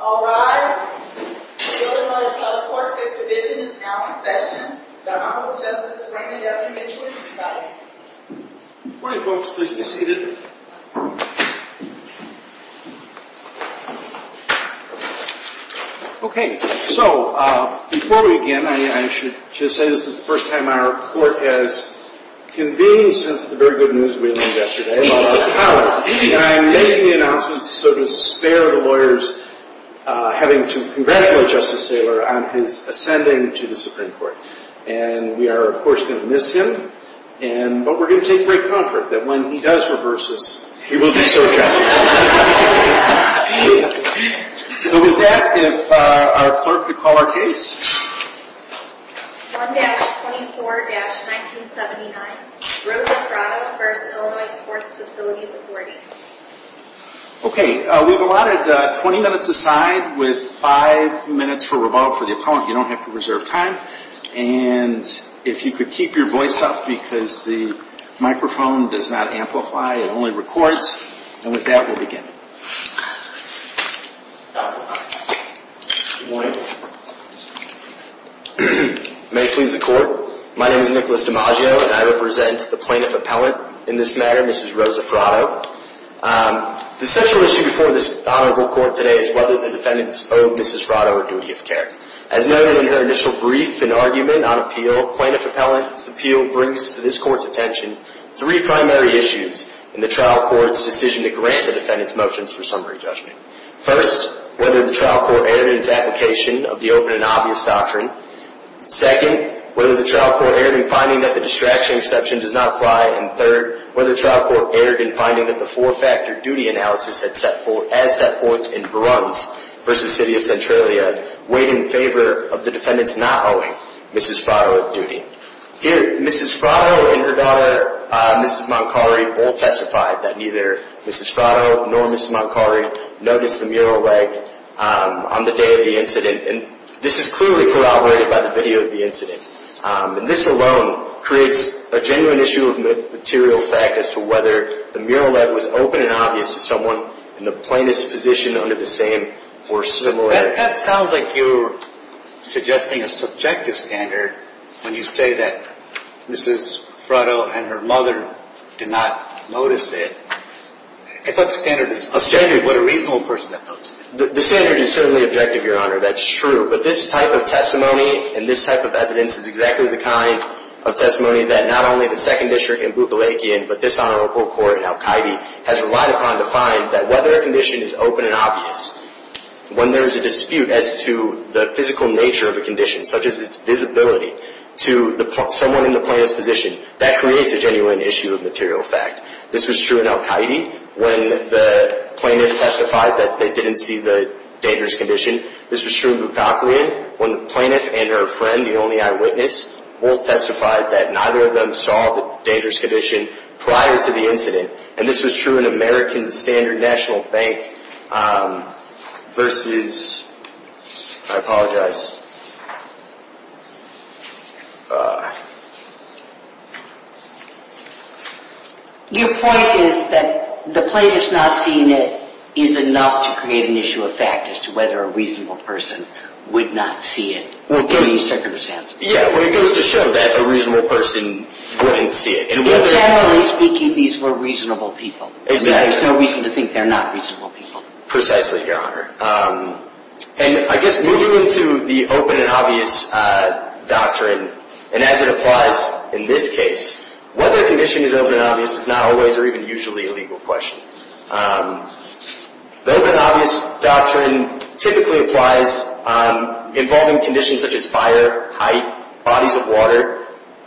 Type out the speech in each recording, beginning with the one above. All rise. The Illinois Court of Fifth Division is now in session. The Honorable Justice Raymond W. Mitchell is presiding. Good morning, folks. Please be seated. Okay, so before we begin, I should just say this is the first time our court has convened since the very good news we learned yesterday about the power. And I'm making the announcement so to spare the lawyers having to congratulate Justice Thaler on his ascending to the Supreme Court. And we are, of course, going to miss him, but we're going to take great comfort that when he does reverse this, he will do so gently. So with that, if our clerk could call our case. 1-24-1979, Rosa Fratto v. Illinois Sports Facilities Authority Okay, we've allotted 20 minutes aside with 5 minutes for rebuttal for the opponent. You don't have to reserve time. And if you could keep your voice up because the microphone does not amplify, it only records. And with that, we'll begin. Good morning. May it please the Court. My name is Nicholas DiMaggio, and I represent the plaintiff appellant in this matter, Mrs. Rosa Fratto. The central issue before this honorable court today is whether the defendant owed Mrs. Fratto a duty of care. As noted in her initial brief and argument on appeal, plaintiff appellant's appeal brings to this Court's attention three primary issues in the trial court's decision to grant the defendant's motions for summary judgment. First, whether the trial court erred in its application of the open and obvious doctrine. Second, whether the trial court erred in finding that the distraction exception does not apply. And third, whether the trial court erred in finding that the four-factor duty analysis as set forth in Veruns v. City of Centralia weighed in favor of the defendant's not owing Mrs. Fratto a duty. Here, Mrs. Fratto and her daughter, Mrs. Moncari, both testified that neither Mrs. Fratto nor Mrs. Moncari noticed the mural leg on the day of the incident. And this is clearly corroborated by the video of the incident. And this alone creates a genuine issue of material fact as to whether the mural leg was open and obvious to someone in the plaintiff's position under the same or similar... That sounds like you're suggesting a subjective standard when you say that Mrs. Fratto and her mother did not notice it. I thought the standard was... A standard, but a reasonable person that noticed it. The standard is certainly objective, Your Honor, that's true. But this type of testimony and this type of evidence is exactly the kind of testimony that not only the Second District and Bukalakian, but this Honorable Court in Al-Qaeda has relied upon to find that whether a condition is open and obvious, when there is a dispute as to the physical nature of a condition, such as its visibility to someone in the plaintiff's position, that creates a genuine issue of material fact. This was true in Al-Qaeda when the plaintiff testified that they didn't see the dangerous condition. This was true in Bukalakian when the plaintiff and her friend, the only eyewitness, both testified that neither of them saw the dangerous condition prior to the incident. And this was true in American Standard National Bank versus... I apologize. Your point is that the plaintiff's not seeing it is enough to create an issue of fact as to whether a reasonable person would not see it. Well, it goes to show that a reasonable person wouldn't see it. Generally speaking, these were reasonable people. Exactly. There's no reason to think they're not reasonable people. Precisely, Your Honor. And I guess moving into the open and obvious doctrine, and as it applies in this case, whether a condition is open and obvious is not always or even usually a legal question. The open and obvious doctrine typically applies involving conditions such as fire, height, bodies of water.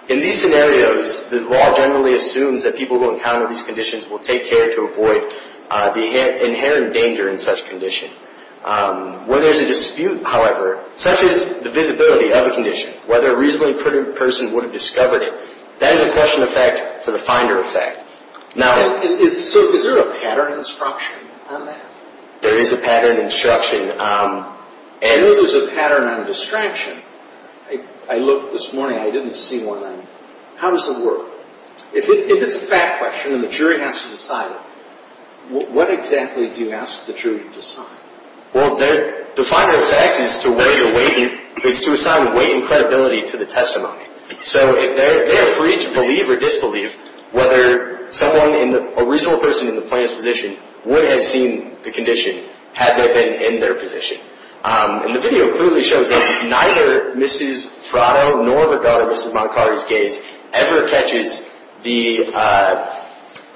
In these scenarios, the law generally assumes that people who encounter these conditions will take care to avoid the inherent danger in such condition. When there's a dispute, however, such as the visibility of a condition, whether a reasonably person would have discovered it, that is a question of fact for the finder effect. So is there a pattern instruction on that? There is a pattern instruction. I know there's a pattern on distraction. I looked this morning. I didn't see one. How does it work? If it's a fact question and the jury has to decide it, what exactly do you ask the jury to decide? Well, the finder effect is to assign weight and credibility to the testimony. So they are free to believe or disbelieve whether someone, a reasonable person in the plaintiff's position, would have seen the condition had they been in their position. And the video clearly shows that neither Mrs. Fratto nor the daughter, Mrs. Moncari's gaze, ever catches the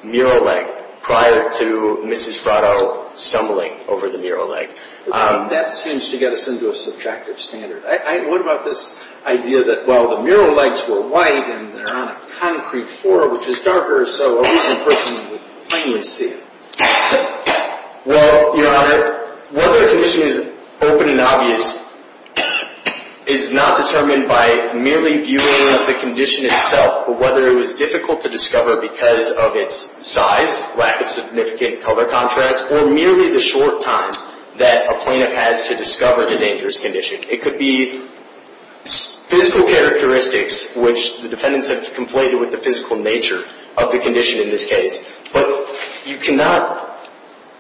mural leg prior to Mrs. Fratto stumbling over the mural leg. That seems to get us into a subtractive standard. What about this idea that while the mural legs were white and they're on a concrete floor, which is darker, so a reasonable person would plainly see it? Well, Your Honor, whether a condition is open and obvious is not determined by merely viewing the condition itself, but whether it was difficult to discover because of its size, lack of significant color contrast, or merely the short time that a plaintiff has to discover the dangerous condition. It could be physical characteristics, which the defendants have conflated with the physical nature of the condition in this case. But you cannot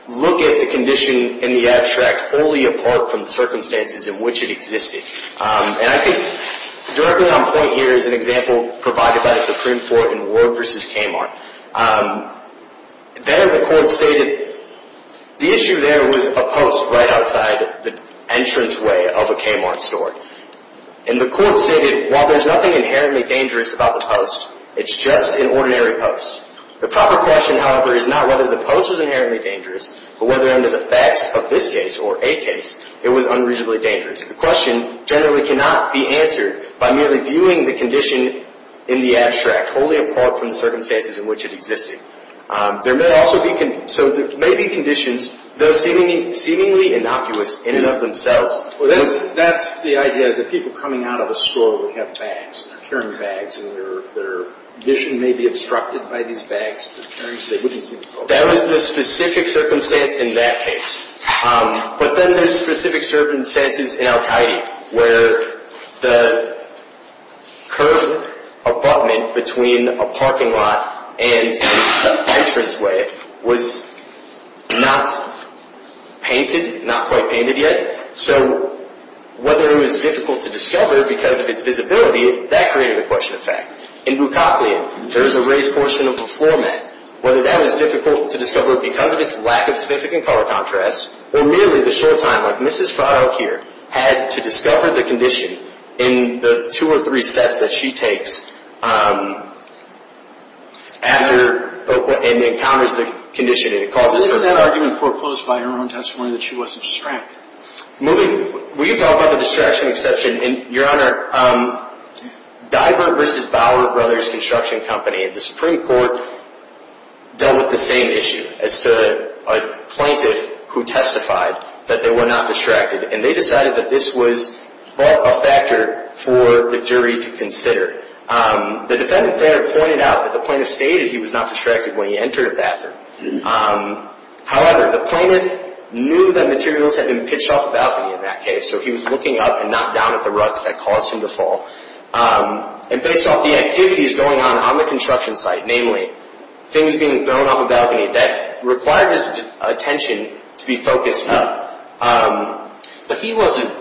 look at the condition in the abstract wholly apart from the circumstances in which it existed. And I think directly on point here is an example provided by the Supreme Court in Ward v. Kamar. There the court stated the issue there was a post right outside the entranceway of a Kamar store. And the court stated, while there's nothing inherently dangerous about the post, it's just an ordinary post. The proper question, however, is not whether the post was inherently dangerous, but whether under the facts of this case or a case, it was unreasonably dangerous. The question generally cannot be answered by merely viewing the condition in the abstract wholly apart from the circumstances in which it existed. There may also be – so there may be conditions, though seemingly innocuous, in and of themselves. Well, that's the idea that people coming out of a store would have bags, carrying bags, and their vision may be obstructed by these bags. That was the specific circumstance in that case. But then there's specific circumstances in al-Qaeda where the curved abutment between a parking lot and the entranceway was not painted, not quite painted yet. So whether it was difficult to discover because of its visibility, that created a question of fact. In Bukaklian, there is a raised portion of a floor mat. Whether that was difficult to discover because of its lack of significant color contrast, or merely the short time, like Mrs. Fahdokir, had to discover the condition in the two or three steps that she takes after – and encounters the condition. It causes – Was that argument foreclosed by her own testimony that she wasn't distracted? Moving – we've talked about the distraction exception. And, Your Honor, Diver v. Bauer Brothers Construction Company, the Supreme Court, dealt with the same issue as to a plaintiff who testified that they were not distracted. And they decided that this was a factor for the jury to consider. The defendant there pointed out that the plaintiff stated he was not distracted when he entered a bathroom. However, the plaintiff knew that materials had been pitched off a balcony in that case, so he was looking up and not down at the ruts that caused him to fall. And based off the activities going on on the construction site, namely, things being thrown off a balcony, that required his attention to be focused up. But he wasn't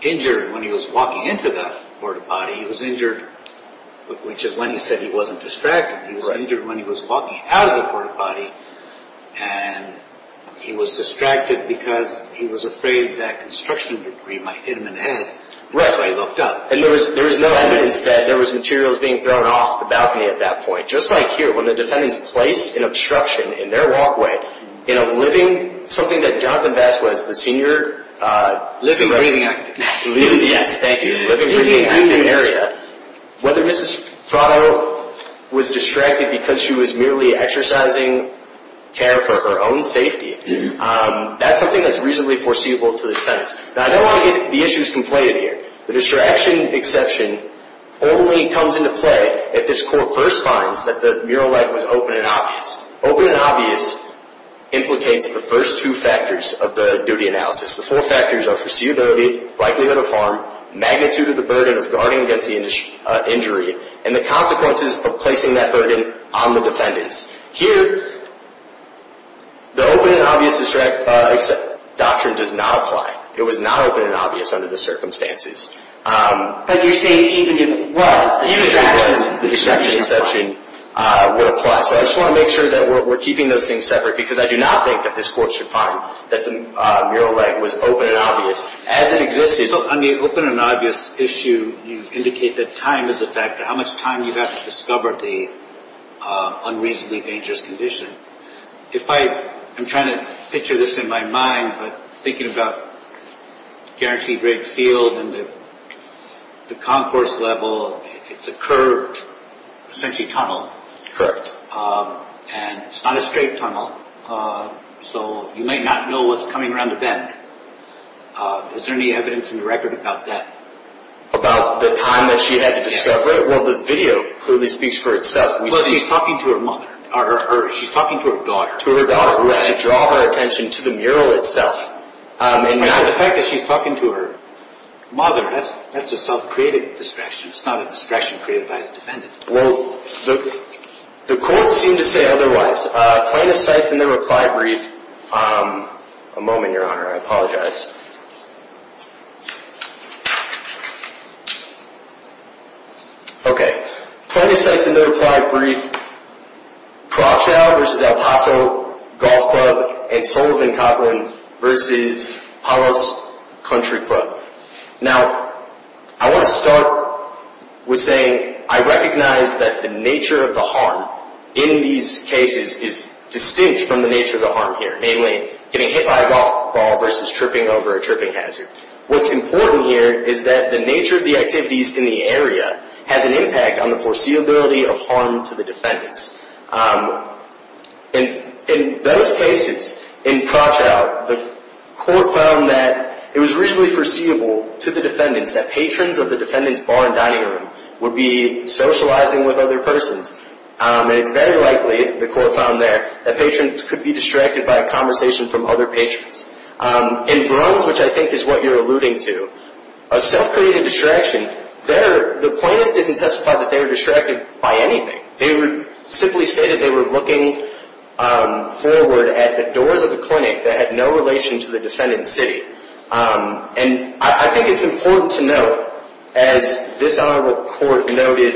injured when he was walking into the port-a-potty. He was injured, which is when he said he wasn't distracted. He was injured when he was walking out of the port-a-potty, and he was distracted because he was afraid that construction debris might hit him in the head. Right. So he looked up. And there was no evidence that there was materials being thrown off the balcony at that point. Just like here, when the defendants placed an obstruction in their walkway in a living – something that Jonathan Bass was the senior – Living, breathing, active. Yes, thank you. Living, breathing, active area. Whether Mrs. Frotto was distracted because she was merely exercising care for her own safety, that's something that's reasonably foreseeable to the defendants. Now, I don't want to get the issues conflated here. The distraction exception only comes into play if this court first finds that the mural leg was open and obvious. Open and obvious implicates the first two factors of the duty analysis. The four factors are foreseeability, likelihood of harm, magnitude of the burden of guarding against the injury, and the consequences of placing that burden on the defendants. Here, the open and obvious distraction exception does not apply. It was not open and obvious under the circumstances. But you're saying even if it was, the distraction exception would apply. Even if it was, the distraction exception would apply. So I just want to make sure that we're keeping those things separate, because I do not think that this court should find that the mural leg was open and obvious as it existed. So on the open and obvious issue, you indicate that time is a factor, how much time you've had to discover the unreasonably dangerous condition. I'm trying to picture this in my mind, but thinking about Guaranteed Great Field and the concourse level, it's a curved, essentially tunnel. Correct. And it's not a straight tunnel, so you might not know what's coming around the bend. Is there any evidence in the record about that? About the time that she had to discover it? Well, the video clearly speaks for itself. She's talking to her daughter, who has to draw her attention to the mural itself. And the fact that she's talking to her mother, that's a self-created distraction. It's not a distraction created by the defendant. Well, the courts seem to say otherwise. Plaintiff cites in their reply brief—a moment, Your Honor, I apologize. Okay. Plaintiff cites in their reply brief Crockchow v. El Paso Golf Club and Sullivan-Coughlin v. Palos Country Club. Now, I want to start with saying I recognize that the nature of the harm in these cases is distinct from the nature of the harm here, namely getting hit by a golf ball versus tripping over a tripping hazard. What's important here is that the nature of the activities in the area has an impact on the foreseeability of harm to the defendants. In those cases, in Crockchow, the court found that it was reasonably foreseeable to the defendants that patrons of the defendant's bar and dining room would be socializing with other persons. And it's very likely, the court found there, that patrons could be distracted by a conversation from other patrons. In Bruns, which I think is what you're alluding to, a self-created distraction, the plaintiff didn't testify that they were distracted by anything. They would simply say that they were looking forward at the doors of the clinic that had no relation to the defendant's city. And I think it's important to note, as this honorable court noted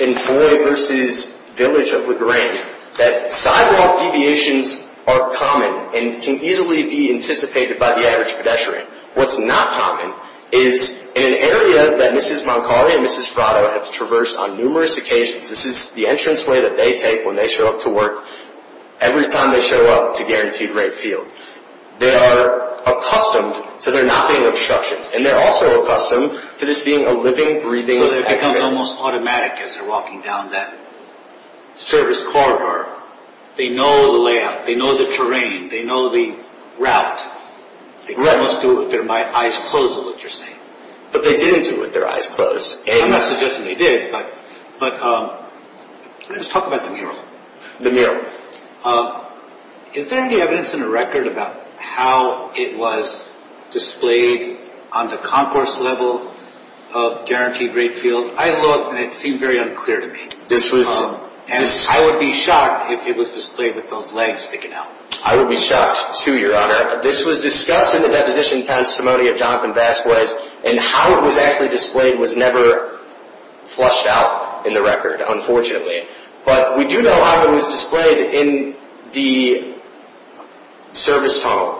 in Foy v. Village of LaGrange, that sidewalk deviations are common and can easily be anticipated by the average pedestrian. What's not common is in an area that Mrs. Moncari and Mrs. Fratto have traversed on numerous occasions, this is the entranceway that they take when they show up to work every time they show up to Guaranteed Rate Field. They are accustomed to there not being obstructions. And they're also accustomed to this being a living, breathing activity. So they become almost automatic as they're walking down that service corridor. They know the layout. They know the terrain. They know the route. They almost do it with their eyes closed is what you're saying. But they didn't do it with their eyes closed. I'm not suggesting they did, but let's talk about the mural. The mural. Is there any evidence in the record about how it was displayed on the concourse level of Guaranteed Rate Field? I looked, and it seemed very unclear to me. I would be shocked if it was displayed with those legs sticking out. I would be shocked, too, Your Honor. This was discussed in the deposition testimony of Jonathan Vasquez, and how it was actually displayed was never flushed out in the record, unfortunately. But we do know how it was displayed in the service tunnel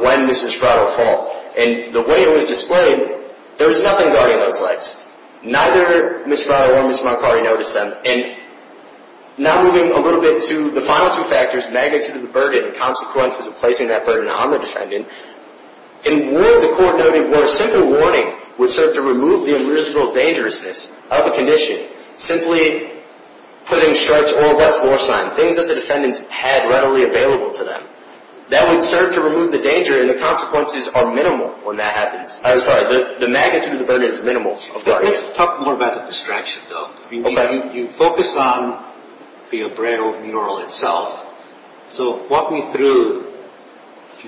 when Mrs. Fratto fell. And the way it was displayed, there was nothing guarding those legs. Neither Mrs. Fratto or Mrs. Moncari noticed them. Now moving a little bit to the final two factors, magnitude of the burden, consequences of placing that burden on the defendant. In war, the court noted, where a simple warning would serve to remove the invisible dangerousness of a condition. Simply putting a stretch or a wet floor sign, things that the defendants had readily available to them. That would serve to remove the danger, and the consequences are minimal when that happens. I'm sorry, the magnitude of the burden is minimal. Let's talk more about the distraction, though. You focus on the abrado mural itself. So walk me through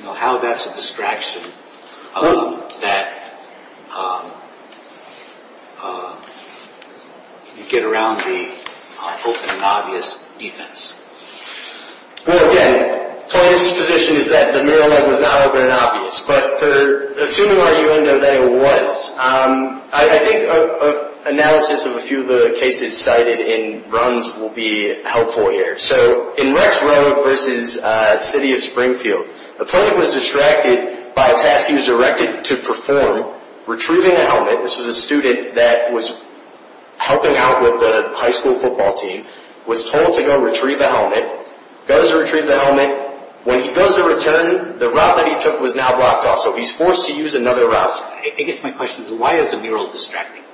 how that's a distraction that you get around the open and obvious defense. Well, again, plaintiff's position is that the mural leg was not open and obvious. Assuming you know that it was, I think analysis of a few of the cases cited in Bruns will be helpful here. So in Rex Road versus City of Springfield, the plaintiff was distracted by a task he was directed to perform, retrieving a helmet. This was a student that was helping out with the high school football team. Was told to go retrieve a helmet. Goes to retrieve the helmet. When he goes to return, the route that he took was now blocked off, so he's forced to use another route. I guess my question is, why is the mural distracting?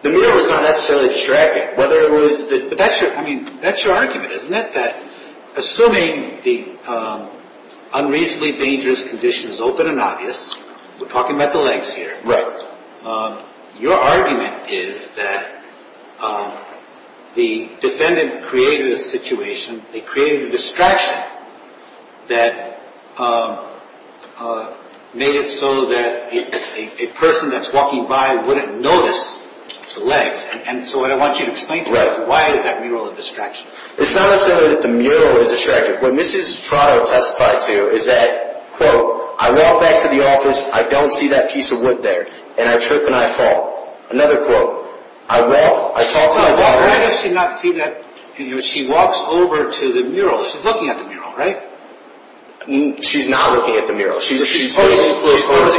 The mural is not necessarily distracting. That's your argument, isn't it? Assuming the unreasonably dangerous condition is open and obvious, we're talking about the legs here. Right. Your argument is that the defendant created a situation. They created a distraction that made it so that a person that's walking by wouldn't notice the legs. So what I want you to explain to me is why is that mural a distraction? It's not necessarily that the mural is distracting. What Mrs. Prado testified to is that, quote, I walk back to the office, I don't see that piece of wood there, and I trip and I fall. Another quote. I walk, I talk to my daughter. She walks over to the mural. She's looking at the mural, right? She's not looking at the mural. She's posing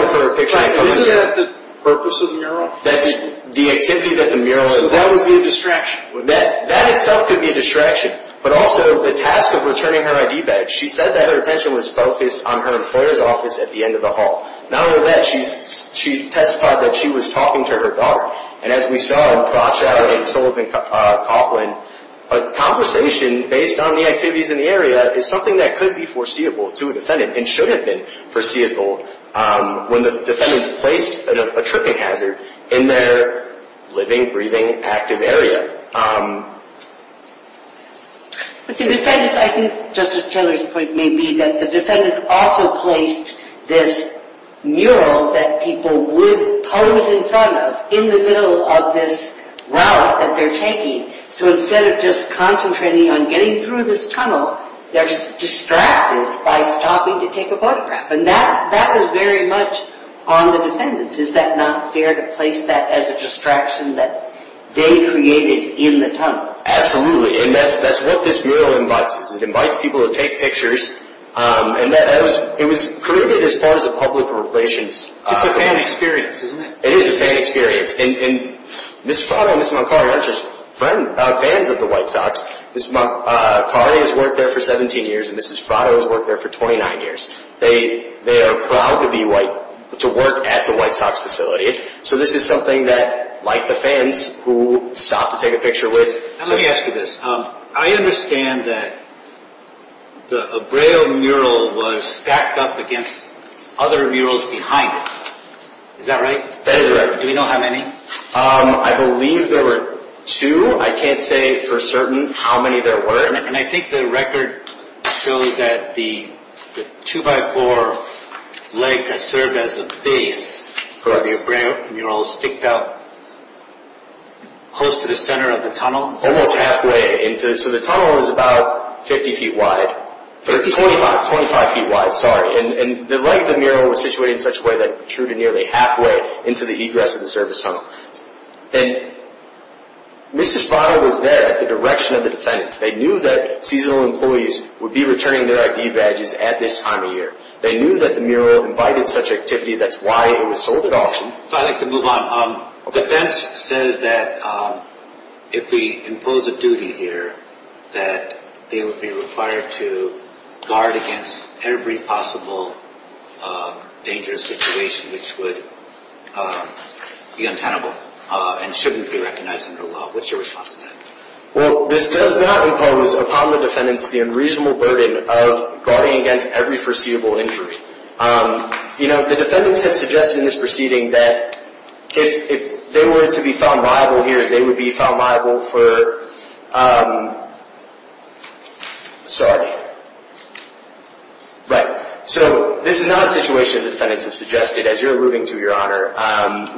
for a picture. Isn't that the purpose of the mural? That's the activity that the mural is doing. So that would be a distraction. That itself could be a distraction, but also the task of returning her ID badge. She said that her attention was focused on her employer's office at the end of the hall. Not only that, she testified that she was talking to her daughter. And as we saw in Pratchett and Sullivan-Coughlin, a conversation based on the activities in the area is something that could be foreseeable to a defendant and should have been foreseeable when the defendants placed a tripping hazard in their living, breathing, active area. But the defendants, I think Justice Taylor's point may be that the defendants also placed this mural that people would pose in front of in the middle of this route that they're taking. So instead of just concentrating on getting through this tunnel, they're distracted by stopping to take a photograph. And that was very much on the defendants. Is that not fair to place that as a distraction that they created in the tunnel? Absolutely. And that's what this mural invites. It invites people to take pictures. And it was created as part of the public relations. It's a fan experience, isn't it? It is a fan experience. And Ms. Frato and Ms. Moncari aren't just fans of the White Sox. Ms. Moncari has worked there for 17 years and Ms. Frato has worked there for 29 years. They are proud to work at the White Sox facility. So this is something that, like the fans who stopped to take a picture with… Let me ask you this. I understand that the Abreu mural was stacked up against other murals behind it. Is that right? That is right. Do we know how many? I believe there were two. I can't say for certain how many there were. And I think the record shows that the two-by-four legs that served as a base for the Abreu mural sticked out close to the center of the tunnel. Almost halfway. So the tunnel was about 50 feet wide. 25 feet wide, sorry. And the leg of the mural was situated in such a way that it protruded nearly halfway into the egress of the service tunnel. And Ms. Frato was there at the direction of the defendants. They knew that seasonal employees would be returning their ID badges at this time of year. They knew that the mural invited such activity. That's why it was sold at auction. I'd like to move on. The defense says that if we impose a duty here that they would be required to guard against every possible dangerous situation which would be untenable and shouldn't be recognized under law. What's your response to that? Well, this does not impose upon the defendants the unreasonable burden of guarding against every foreseeable injury. You know, the defendants have suggested in this proceeding that if they were to be found liable here, they would be found liable for, sorry, right. So this is not a situation, as the defendants have suggested, as you're alluding to, Your Honor,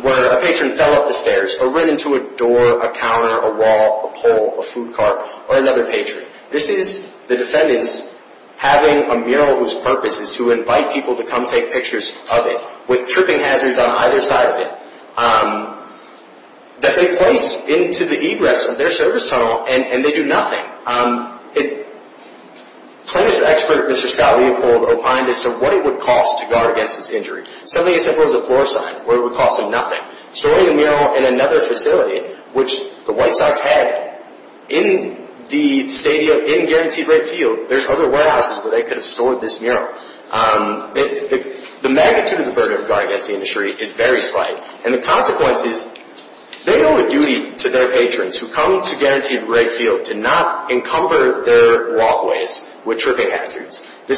where a patron fell up the stairs or ran into a door, a counter, a wall, a pole, a food cart, or another patron. This is the defendants having a mural whose purpose is to invite people to come take pictures of it with tripping hazards on either side of it that they place into the egress of their service tunnel and they do nothing. Plaintiff's expert, Mr. Scott Leopold, opined as to what it would cost to guard against this injury. Something as simple as a floor sign, where it would cost them nothing. Storing the mural in another facility, which the White Sox had, in the stadium, in Guaranteed Red Field, there's other warehouses where they could have stored this mural. The magnitude of the burden of guarding against the injury is very slight. And the consequence is they owe a duty to their patrons who come to Guaranteed Red Field to not encumber their walkways with tripping hazards. The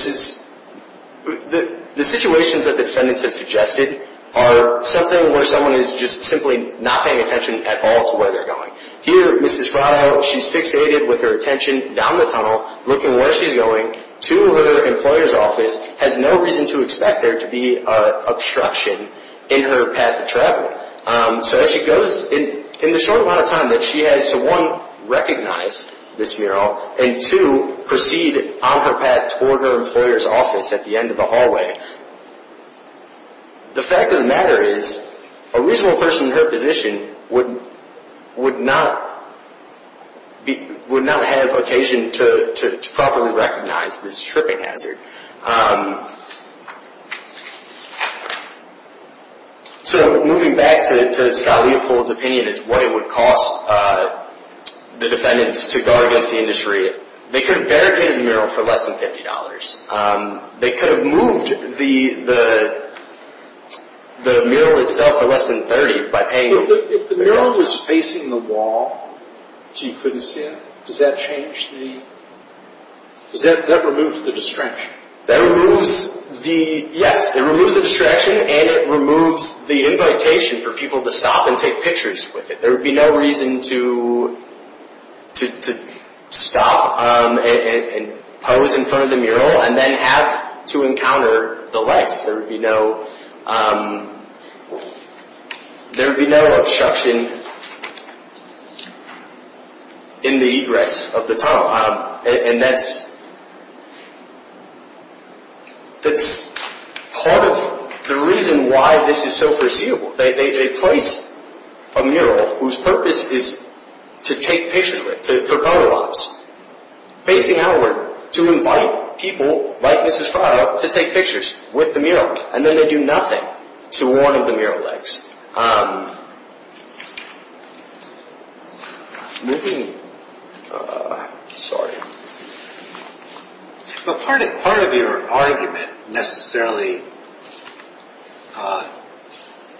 situations that the defendants have suggested are something where someone is just simply not paying attention at all to where they're going. Here, Mrs. Fratto, she's fixated with her attention down the tunnel, looking where she's going to her employer's office, has no reason to expect there to be obstruction in her path of travel. So as she goes, in the short amount of time that she has to, one, recognize this mural, and two, proceed on her path toward her employer's office at the end of the hallway, the fact of the matter is a reasonable person in her position would not have occasion to properly recognize this tripping hazard. So, moving back to Scott Leopold's opinion as to what it would cost the defendants to guard against the injury, they could have barricaded the mural for less than $50. They could have moved the mural itself for less than $30 by paying... If the mural was facing the wall so you couldn't see it, does that change the... does that remove the distraction? That removes the... yes, it removes the distraction and it removes the invitation for people to stop and take pictures with it. There would be no reason to stop and pose in front of the mural and then have to encounter the lights. There would be no obstruction in the egress of the tunnel. And that's part of the reason why this is so foreseeable. They place a mural whose purpose is to take pictures with, to colorize, facing outward, to invite people like Mrs. Friar to take pictures with the mural, and then they do nothing to one of the mural legs. Moving... sorry. But part of your argument necessarily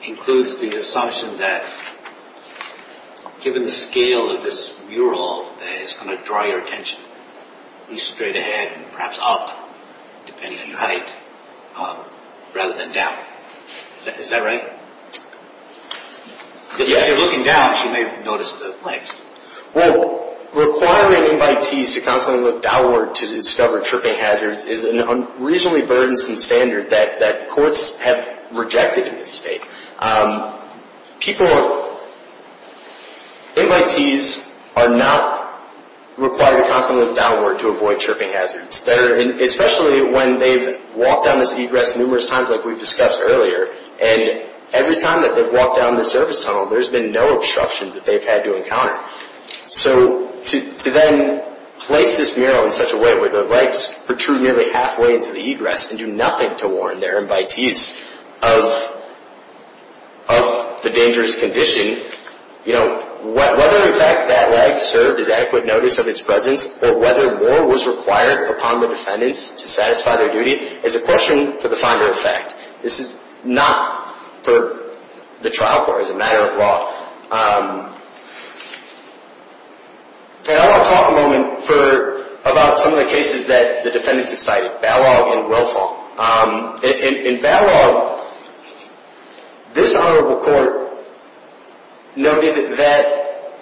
includes the assumption that given the scale of this mural, that it's going to draw your attention, be straight ahead and perhaps up, depending on your height, rather than down. Is that right? Because if you're looking down, she may have noticed the legs. Well, requiring invitees to constantly look downward to discover tripping hazards is an unreasonably burdensome standard that courts have rejected in this state. People... invitees are not required to constantly look downward to avoid tripping hazards. Especially when they've walked down this egress numerous times like we've discussed earlier, and every time that they've walked down this surface tunnel, there's been no obstructions that they've had to encounter. So to then place this mural in such a way where the legs protrude nearly halfway into the egress and do nothing to warn their invitees of the dangerous condition, whether in fact that leg served as adequate notice of its presence, or whether more was required upon the defendants to satisfy their duty, is a question for the finder of fact. This is not for the trial court as a matter of law. And I want to talk a moment further about some of the cases that the defendants have cited, Balog and Willfall. In Balog, this Honorable Court noted that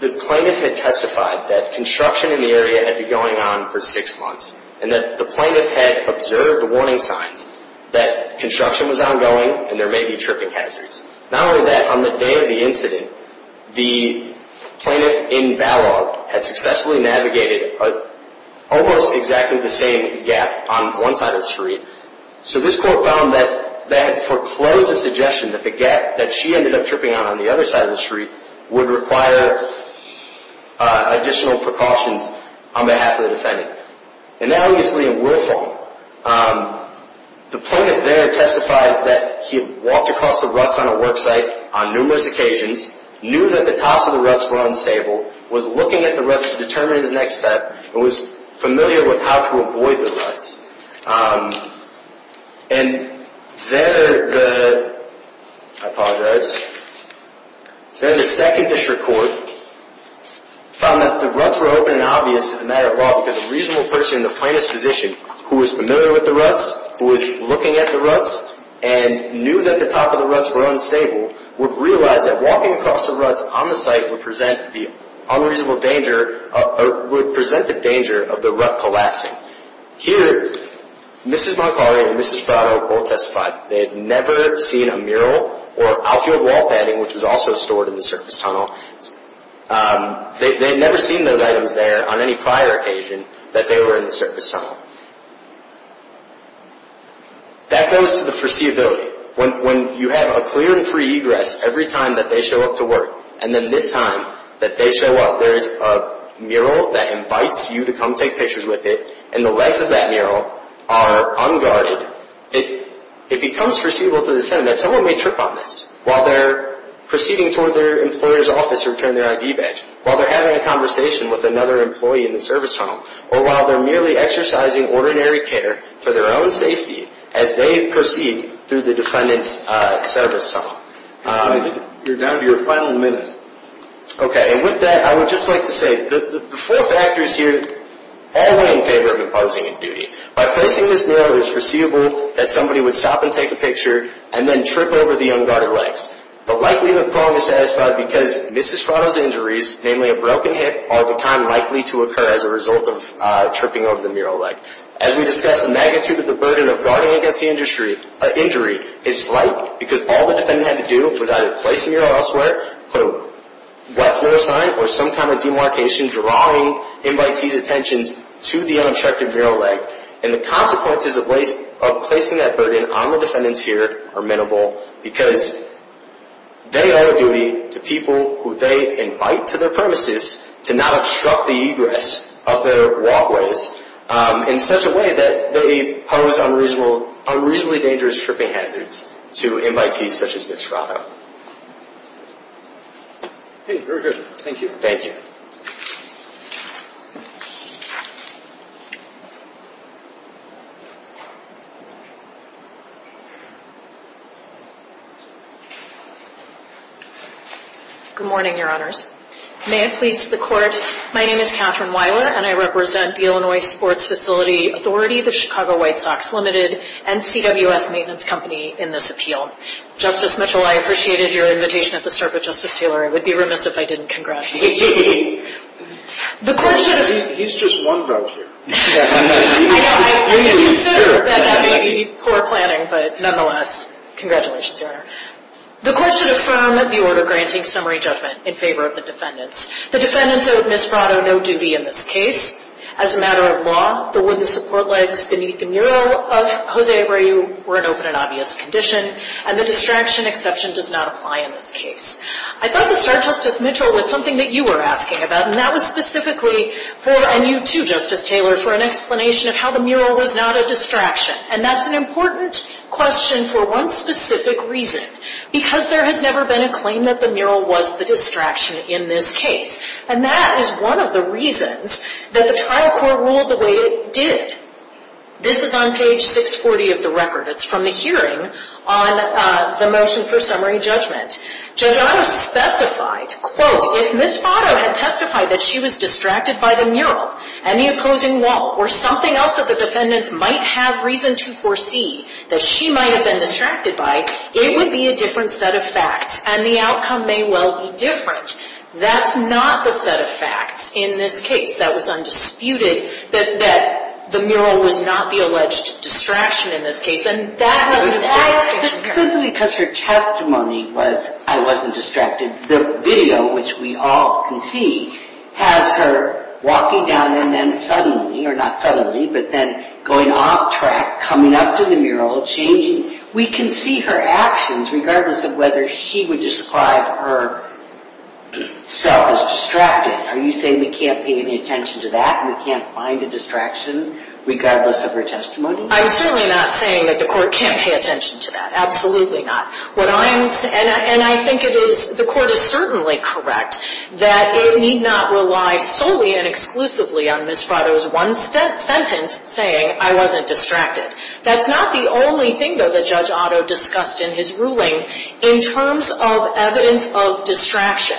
the plaintiff had testified that construction in the area had been going on for six months, and that the plaintiff had observed warning signs that construction was ongoing and there may be tripping hazards. Not only that, on the day of the incident, the plaintiff in Balog had successfully navigated almost exactly the same gap on one side of the street. So this court found that they had foreclosed the suggestion that the gap that she ended up tripping on, on the other side of the street, would require additional precautions on behalf of the defendant. And now, obviously, in Willfall, the plaintiff there testified that he had walked across the ruts on a worksite on numerous occasions, knew that the tops of the ruts were unstable, was looking at the ruts to determine his next step, and was familiar with how to avoid the ruts. And then the second district court found that the ruts were open and obvious as a matter of law because a reasonable person in the plaintiff's position who was familiar with the ruts, who was looking at the ruts and knew that the top of the ruts were unstable, would realize that walking across the ruts on the site would present the danger of the rut collapsing. Here, Mrs. Moncari and Mrs. Brado both testified that they had never seen a mural or outfield wall padding, which was also stored in the surface tunnel. They had never seen those items there on any prior occasion that they were in the surface tunnel. That goes to the foreseeability. When you have a clear and free egress every time that they show up to work, and then this time that they show up there is a mural that invites you to come take pictures with it, and the legs of that mural are unguarded, it becomes foreseeable to the defendant that someone may trip on this while they're proceeding toward their employer's office to return their ID badge, while they're having a conversation with another employee in the surface tunnel, or while they're merely exercising ordinary care for their own safety as they proceed through the defendant's surface tunnel. I think you're down to your final minute. Okay, and with that, I would just like to say the four factors here all went in favor of imposing a duty. By placing this mural, it's foreseeable that somebody would stop and take a picture, and then trip over the unguarded legs. But likely the problem is satisfied because Mrs. Brado's injuries, namely a broken hip, are the kind likely to occur as a result of tripping over the mural leg. As we discussed, the magnitude of the burden of guarding against the injury is slight because all the defendant had to do was either place the mural elsewhere, put a wet floor sign, or some kind of demarcation drawing invitees' attentions to the unobstructed mural leg. And the consequences of placing that burden on the defendants here are minimal because they owe a duty to people who they invite to their premises to not obstruct the egress of their walkways in such a way that they pose unreasonably dangerous tripping hazards to invitees such as Mrs. Brado. Okay, very good. Thank you. Thank you. Good morning, Your Honors. May it please the Court, my name is Catherine Wyler, and I represent the Illinois Sports Facility Authority, the Chicago White Sox Limited, and CWS Maintenance Company in this appeal. Justice Mitchell, I appreciated your invitation at the start, but Justice Taylor, I would be remiss if I didn't congratulate you. He's just one vote here. I do consider that that may be poor planning, but nonetheless, congratulations, Your Honor. The Court should affirm the order granting summary judgment in favor of the defendants. The defendants owed Mrs. Brado no duty in this case. As a matter of law, the support legs beneath the mural of Jose Abreu were in open and obvious condition, and the distraction exception does not apply in this case. I'd love to start, Justice Mitchell, with something that you were asking about, and that was specifically for, and you too, Justice Taylor, for an explanation of how the mural was not a distraction, and that's an important question for one specific reason, because there has never been a claim that the mural was the distraction in this case, and that is one of the reasons that the trial court ruled the way it did. This is on page 640 of the record. It's from the hearing on the motion for summary judgment. Judge Otto specified, quote, if Ms. Brado had testified that she was distracted by the mural and the opposing wall or something else that the defendants might have reason to foresee that she might have been distracted by, it would be a different set of facts, and the outcome may well be different. That's not the set of facts in this case. That was undisputed that the mural was not the alleged distraction in this case, simply because her testimony was I wasn't distracted. The video, which we all can see, has her walking down and then suddenly, or not suddenly, but then going off track, coming up to the mural, changing. We can see her actions regardless of whether she would describe herself as distracted. Are you saying we can't pay any attention to that and we can't find a distraction regardless of her testimony? I'm certainly not saying that the court can't pay attention to that. Absolutely not. What I'm saying, and I think it is, the court is certainly correct, that it need not rely solely and exclusively on Ms. Brado's one sentence saying, I wasn't distracted. That's not the only thing, though, that Judge Otto discussed in his ruling in terms of evidence of distraction.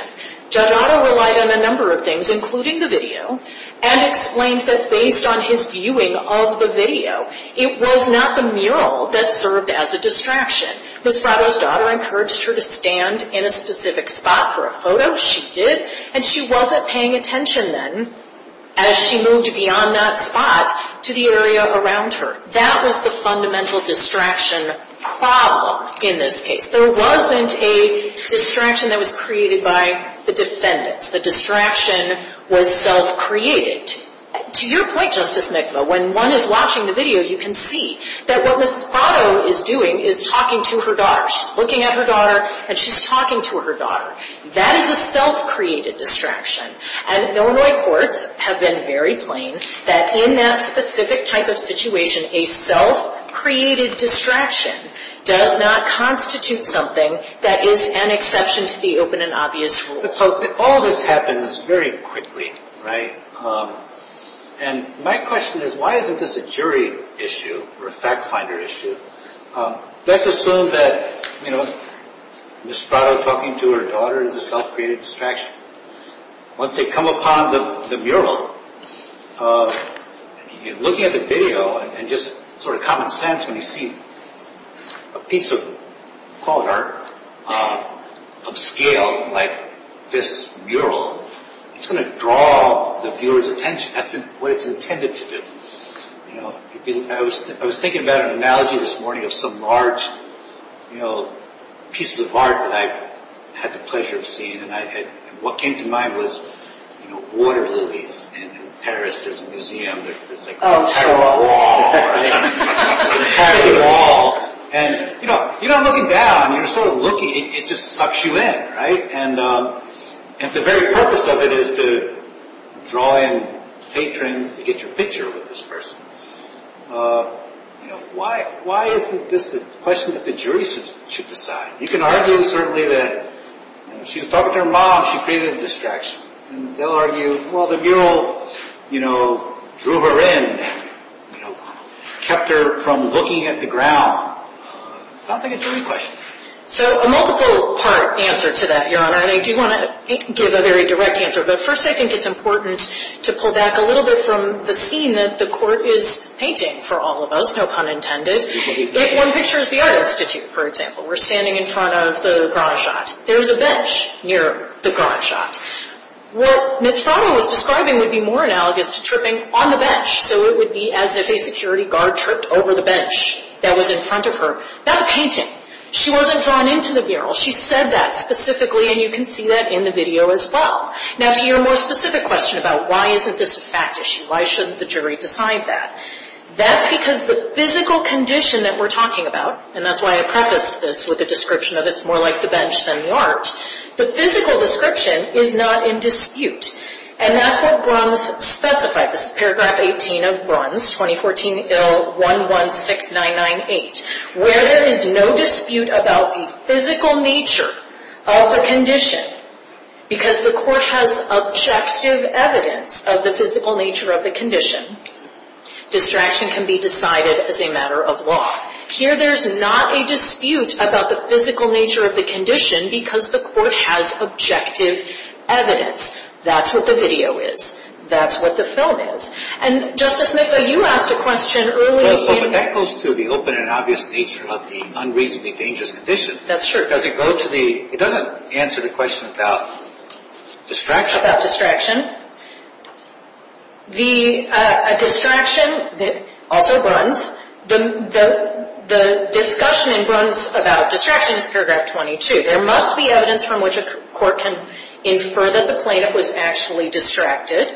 Judge Otto relied on a number of things, including the video, and explained that based on his viewing of the video, it was not the mural that served as a distraction. Ms. Brado's daughter encouraged her to stand in a specific spot for a photo. She did, and she wasn't paying attention then as she moved beyond that spot to the area around her. That was the fundamental distraction problem in this case. There wasn't a distraction that was created by the defendants. The distraction was self-created. To your point, Justice Mikva, when one is watching the video, you can see that what Ms. Brado is doing is talking to her daughter. She's looking at her daughter, and she's talking to her daughter. That is a self-created distraction. And Illinois courts have been very plain that in that specific type of situation, a self-created distraction does not constitute something that is an exception to the open and obvious rule. All of this happens very quickly. My question is, why isn't this a jury issue or a fact-finder issue? Let's assume that Ms. Brado talking to her daughter is a self-created distraction. Once they come upon the mural, looking at the video, and just sort of common sense when you see a piece of, call it art, of scale like this mural, it's going to draw the viewer's attention. That's what it's intended to do. I was thinking about an analogy this morning of some large pieces of art that I had the pleasure of seeing, and what came to mind was water lilies. In Paris, there's a museum that's like an entire wall. An entire wall. You're not looking down. You're sort of looking. It just sucks you in, right? And the very purpose of it is to draw in patrons to get your picture with this person. Why isn't this a question that the jury should decide? You can argue, certainly, that if she was talking to her mom, she created a distraction. They'll argue, well, the mural drew her in, kept her from looking at the ground. It sounds like a jury question. So a multiple part answer to that, Your Honor, and I do want to give a very direct answer, but first I think it's important to pull back a little bit from the scene that the court is painting for all of us, no pun intended. One picture is the Art Institute, for example. We're standing in front of the Grand Chateau. There's a bench near the Grand Chateau. What Ms. Frommel was describing would be more analogous to tripping on the bench, so it would be as if a security guard tripped over the bench that was in front of her. That's a painting. She wasn't drawn into the mural. She said that specifically, and you can see that in the video as well. Now, to your more specific question about why isn't this a fact issue, why shouldn't the jury decide that, that's because the physical condition that we're talking about, and that's why I prefaced this with a description of it's more like the bench than the art, the physical description is not in dispute, and that's what Bruns specified. This is Paragraph 18 of Bruns, 2014 Ill 116998, where there is no dispute about the physical nature of a condition because the court has objective evidence of the physical nature of the condition. Distraction can be decided as a matter of law. Here there's not a dispute about the physical nature of the condition because the court has objective evidence. That's what the video is. That's what the film is. And Justice Smith, you asked a question earlier. Well, but that goes to the open and obvious nature of the unreasonably dangerous condition. That's true. Does it go to the, it doesn't answer the question about distraction. About distraction. A distraction, also Bruns, the discussion in Bruns about distraction is Paragraph 22. There must be evidence from which a court can infer that the plaintiff was actually distracted,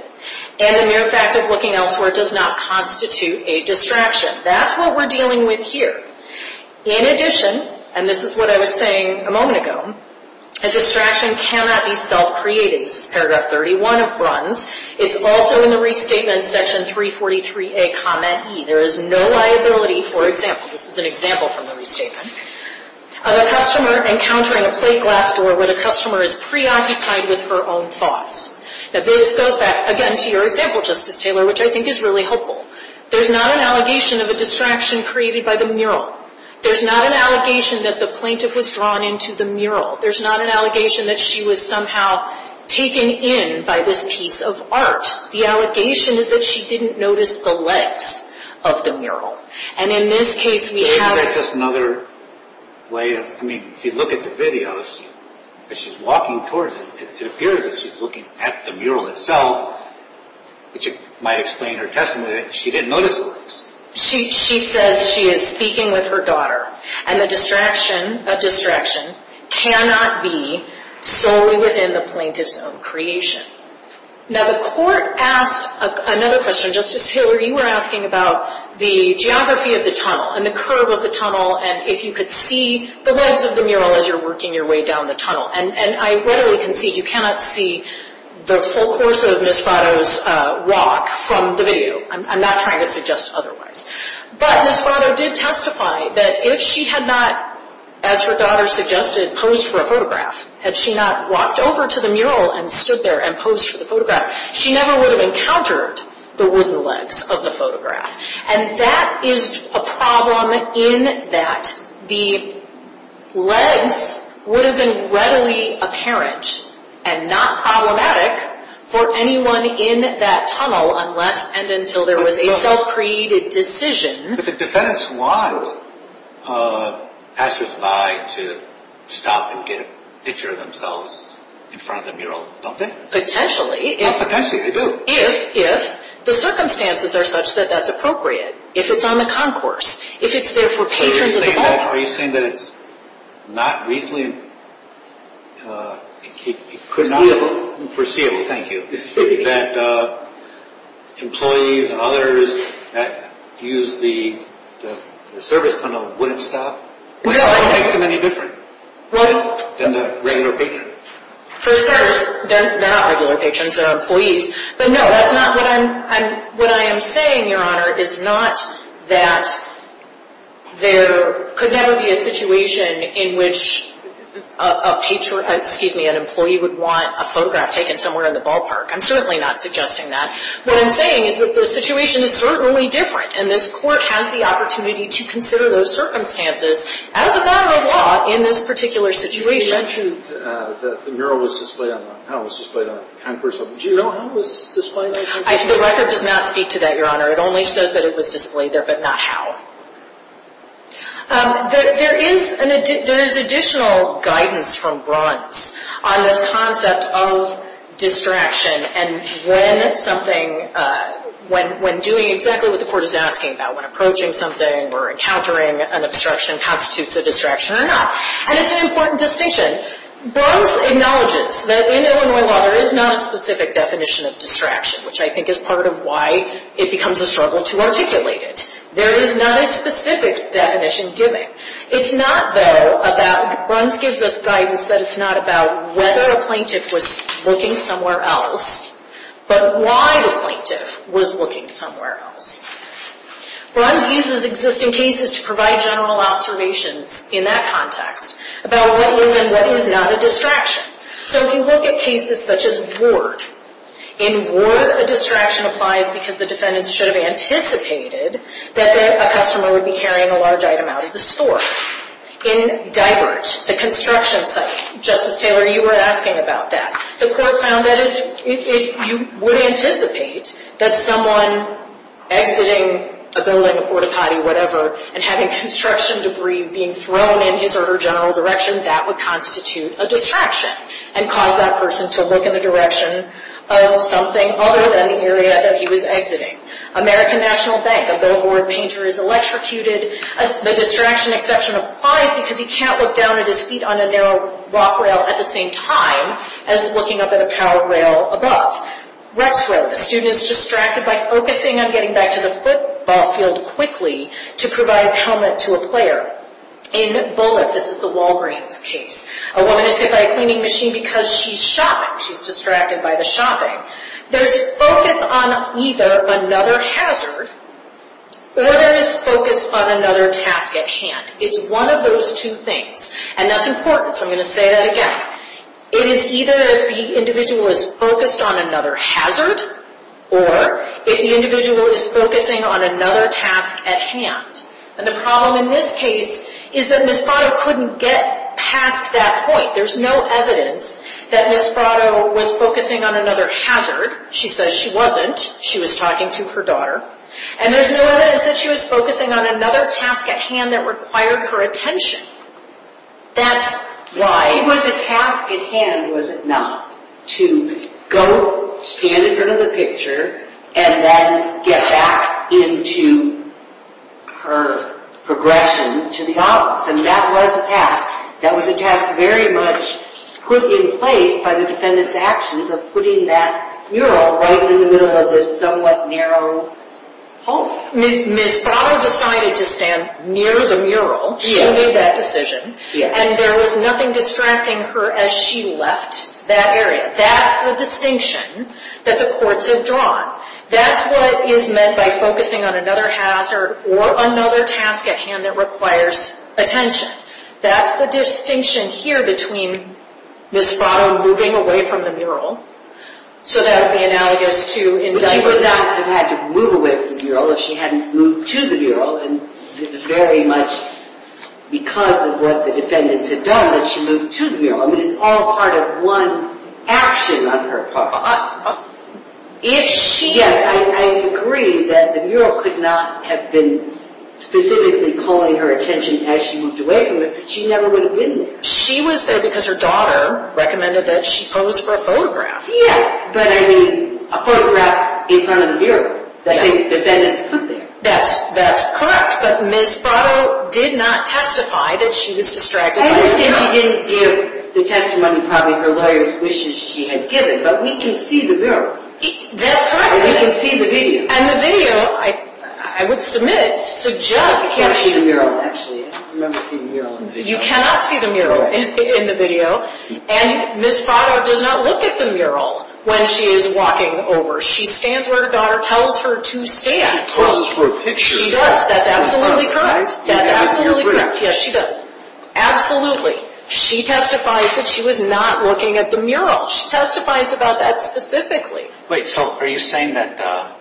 and the mere fact of looking elsewhere does not constitute a distraction. That's what we're dealing with here. In addition, and this is what I was saying a moment ago, a distraction cannot be self-created. This is Paragraph 31 of Bruns. It's also in the restatement, Section 343A, Comment E. There is no liability, for example, this is an example from the restatement, of a customer encountering a plate glass door where the customer is preoccupied with her own thoughts. Now this goes back, again, to your example, Justice Taylor, which I think is really helpful. There's not an allegation of a distraction created by the mural. There's not an allegation that the plaintiff was drawn into the mural. There's not an allegation that she was somehow taken in by this piece of art. The allegation is that she didn't notice the legs of the mural. And in this case, we have... But isn't that just another way of, I mean, if you look at the videos, as she's walking towards it, it appears that she's looking at the mural itself, which might explain her testimony that she didn't notice the legs. She says she is speaking with her daughter. And the distraction, that distraction, cannot be solely within the plaintiff's own creation. Now the court asked another question. Justice Taylor, you were asking about the geography of the tunnel and the curve of the tunnel and if you could see the legs of the mural as you're working your way down the tunnel. And I readily concede you cannot see the full course of Ms. Fato's walk from the video. I'm not trying to suggest otherwise. But Ms. Fato did testify that if she had not, as her daughter suggested, posed for a photograph, had she not walked over to the mural and stood there and posed for the photograph, she never would have encountered the wooden legs of the photograph. And that is a problem in that the legs would have been readily apparent and not problematic for anyone in that tunnel unless and until there was a self-created decision. But the defendants want passersby to stop and get a picture of themselves in front of the mural, don't they? Potentially. Potentially, they do. If the circumstances are such that that's appropriate. If it's on the concourse. If it's there for patrons of the ballpark. Are you saying that it's not reasonably foreseeable, thank you, that employees and others that use the service tunnel wouldn't stop? No. It makes them any different than the regular patron. For starters, they're not regular patrons. They're employees. What I am saying, Your Honor, is not that there could never be a situation in which an employee would want a photograph taken somewhere in the ballpark. I'm certainly not suggesting that. What I'm saying is that the situation is certainly different, and this Court has the opportunity to consider those circumstances as a matter of law in this particular situation. You mentioned that the mural was displayed on the concourse. Do you know how it was displayed on the concourse? The record does not speak to that, Your Honor. It only says that it was displayed there, but not how. There is additional guidance from bronze on this concept of distraction, and when doing exactly what the Court is asking about, when approaching something or encountering an obstruction constitutes a distraction or not. And it's an important distinction. Bronze acknowledges that in Illinois law there is not a specific definition of distraction, which I think is part of why it becomes a struggle to articulate it. There is not a specific definition given. It's not, though, about—bronze gives us guidance that it's not about whether a plaintiff was looking somewhere else, but why the plaintiff was looking somewhere else. Bronze uses existing cases to provide general observations in that context about what is and what is not a distraction. So if you look at cases such as Ward, in Ward a distraction applies because the defendants should have anticipated that a customer would be carrying a large item out of the store. In Divert, the construction site, Justice Taylor, you were asking about that. The Court found that if you would anticipate that someone exiting a building, a port-a-potty, whatever, and having construction debris being thrown in his or her general direction, that would constitute a distraction and cause that person to look in the direction of something other than the area that he was exiting. American National Bank, a billboard painter is electrocuted. The distraction exception applies because he can't look down at his feet on a narrow walk rail at the same time as looking up at a powered rail above. Rex Road, a student is distracted by focusing on getting back to the football field quickly to provide a helmet to a player. In Bullitt, this is the Walgreens case, a woman is hit by a cleaning machine because she's shopping. She's distracted by the shopping. There's focus on either another hazard or there is focus on another task at hand. It's one of those two things. And that's important, so I'm going to say that again. It is either if the individual is focused on another hazard or if the individual is focusing on another task at hand. And the problem in this case is that Misprato couldn't get past that point. There's no evidence that Misprato was focusing on another hazard. She says she wasn't. She was talking to her daughter. And there's no evidence that she was focusing on another task at hand that required her attention. That's why it was a task at hand, was it not, to go stand in front of the picture and then get back into her progression to the office. And that was a task. That was a task very much put in place by the defendant's actions of putting that mural right in the middle of this somewhat narrow hallway. Misprato decided to stand near the mural. She made that decision. And there was nothing distracting her as she left that area. That's the distinction that the courts have drawn. That's what is meant by focusing on another hazard or another task at hand that requires attention. That's the distinction here between Misprato moving away from the mural. So that would be analogous to indictment. But she would not have had to move away from the mural if she hadn't moved to the mural. And it was very much because of what the defendants had done that she moved to the mural. I mean, it's all part of one action on her part. Yes, I agree that the mural could not have been specifically calling her attention as she moved away from it, but she never would have been there. She was there because her daughter recommended that she pose for a photograph. Yes, but I mean, a photograph in front of the mural that the defendants put there. That's correct. But Misprato did not testify that she was distracted by the mural. I understand she didn't give the testimony. Probably her lawyer's wishes she had given, but we can see the mural. That's correct. We can see the video. And the video, I would submit, suggests that you cannot see the mural in the video. And Misprato does not look at the mural when she is walking over. She stands where her daughter tells her to stand. She poses for a picture. She does. That's absolutely correct. That's absolutely correct. Yes, she does. Absolutely. She testifies that she was not looking at the mural. She testifies about that specifically. Wait, so are you saying that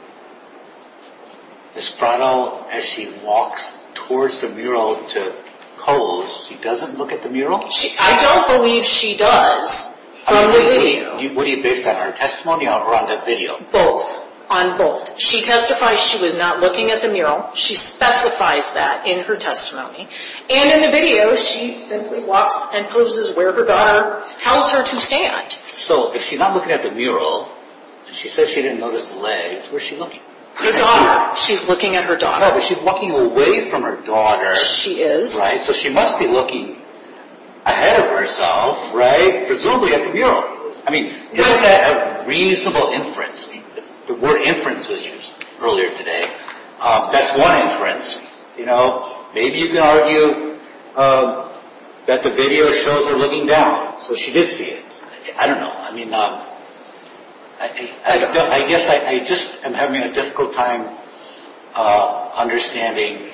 Misprato, as she walks towards the mural to pose, she doesn't look at the mural? I don't believe she does from the video. Would you base that on her testimony or on the video? Both. On both. She testifies she was not looking at the mural. She specifies that in her testimony. And in the video, she simply walks and poses where her daughter tells her to stand. So if she's not looking at the mural and she says she didn't notice the legs, where is she looking? Her daughter. She's looking at her daughter. No, but she's walking away from her daughter. She is. Right? So she must be looking ahead of herself, right? Presumably at the mural. I mean, look at a reasonable inference. The word inference was used earlier today. That's one inference. Maybe you can argue that the video shows her looking down. So she did see it. I don't know. I guess I just am having a difficult time understanding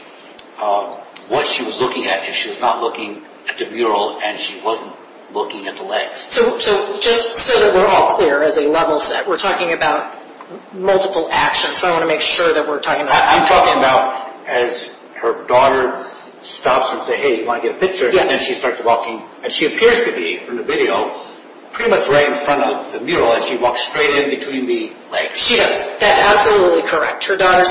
what she was looking at if she was not looking at the mural and she wasn't looking at the legs. So just so that we're all clear as a level set, we're talking about multiple actions. So I want to make sure that we're talking about the same thing. I'm talking about as her daughter stops and says, hey, do you want to get a picture? And then she starts walking. And she appears to be, from the video, pretty much right in front of the mural as she walks straight in between the legs. She does. That's absolutely correct. Her daughter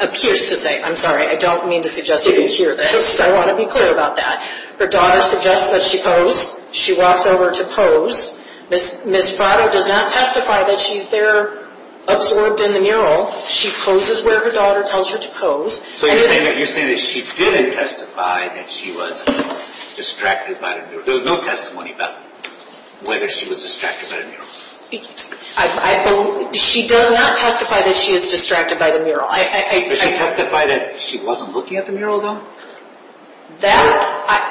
appears to say, I'm sorry, I don't mean to suggest you didn't hear this. I want to be clear about that. Her daughter suggests that she pose. She walks over to pose. Ms. Fratto does not testify that she's there absorbed in the mural. She poses where her daughter tells her to pose. So you're saying that she didn't testify that she was distracted by the mural. There was no testimony about whether she was distracted by the mural. She does not testify that she is distracted by the mural. Does she testify that she wasn't looking at the mural, though? That,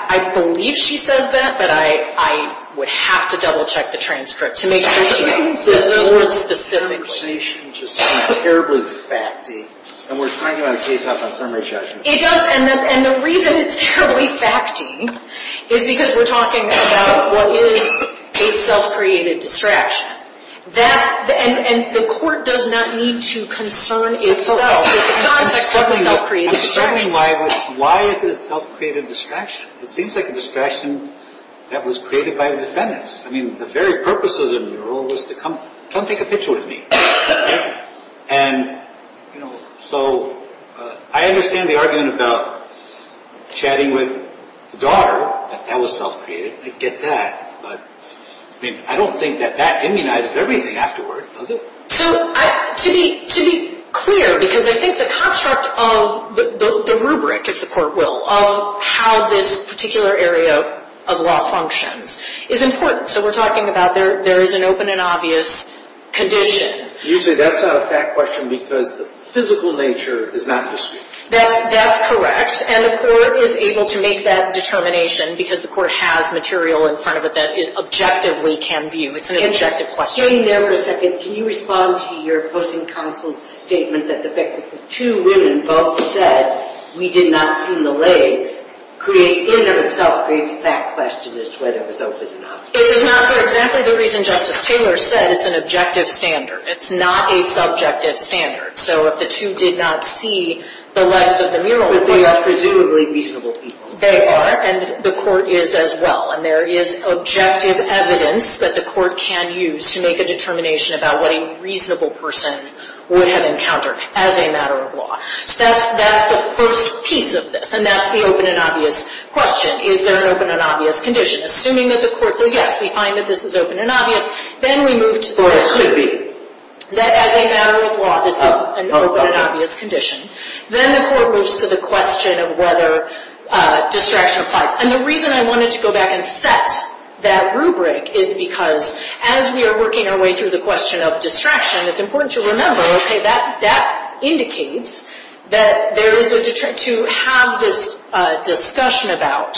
I believe she says that, but I would have to double check the transcript to make sure she says those words specifically. That conversation just sounds terribly fact-y. And we're trying to get a case out on summary judgment. It does. And the reason it's terribly fact-y is because we're talking about what is a self-created distraction. And the court does not need to concern itself with the context of a self-created distraction. I'm starting to wonder, why is it a self-created distraction? It seems like a distraction that was created by the defendants. I mean, the very purpose of the mural was to come take a picture with me. And, you know, so I understand the argument about chatting with the daughter. That was self-created. I get that. But I mean, I don't think that that immunizes everything afterward, does it? So to be clear, because I think the construct of the rubric, if the court will, of how this particular area of law functions is important. So we're talking about there is an open and obvious condition. You say that's not a fact question because the physical nature is not discreet. That's correct. And the court is able to make that determination because the court has material in front of it that it objectively can view. It's an objective question. Staying there for a second, can you respond to your opposing counsel's statement that the fact that the two women both said, we did not see the legs, creates in and of itself creates fact question as to whether it was open or not? It does not for exactly the reason Justice Taylor said. It's an objective standard. It's not a subjective standard. So if the two did not see the legs of the mural, of course. But they are presumably reasonable people. They are. And the court is as well. And there is objective evidence that the court can use to make a determination about what a reasonable person would have encountered as a matter of law. So that's the first piece of this. And that's the open and obvious question. Is there an open and obvious condition? Assuming that the court says, yes, we find that this is open and obvious. Then we move to the question. Or it should be. That as a matter of law, this is an open and obvious condition. Then the court moves to the question of whether distraction applies. And the reason I wanted to go back and set that rubric is because as we are working our way through the question of distraction, it's important to remember, okay, that indicates that to have this discussion about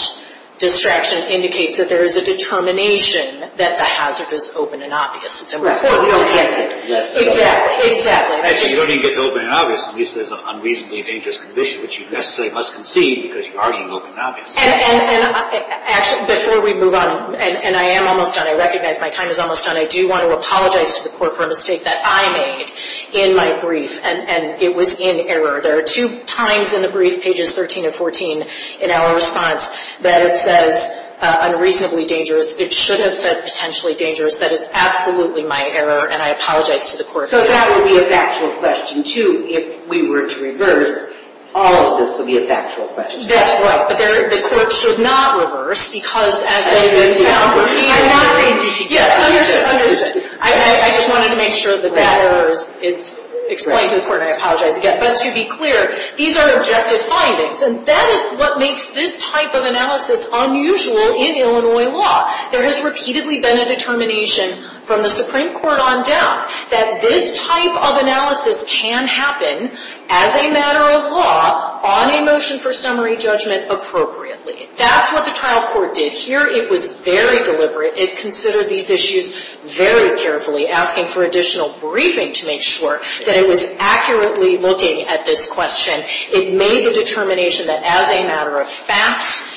distraction indicates that there is a determination that the hazard is open and obvious. It's important to get that. Exactly. You don't even get the open and obvious. At least there's an unreasonably dangerous condition, which you necessarily must concede because you argue open and obvious. And before we move on, and I am almost done. I recognize my time is almost done. I do want to apologize to the court for a mistake that I made in my brief, and it was in error. There are two times in the brief, pages 13 and 14, in our response that it says unreasonably dangerous. It should have said potentially dangerous. That is absolutely my error, and I apologize to the court for that. So that would be a factual question, too, if we were to reverse. All of this would be a factual question. That's right. But the court should not reverse because, as has been found, we are not saying dangerous. Yes, understood, understood. I just wanted to make sure that that error is explained to the court, and I apologize again. But to be clear, these are objective findings, and that is what makes this type of analysis unusual in Illinois law. There has repeatedly been a determination from the Supreme Court on down that this type of analysis can happen as a matter of law on a motion for summary judgment appropriately. That's what the trial court did here. It was very deliberate. It considered these issues very carefully, asking for additional briefing to make sure that it was accurately looking at this question. It made the determination that as a matter of fact,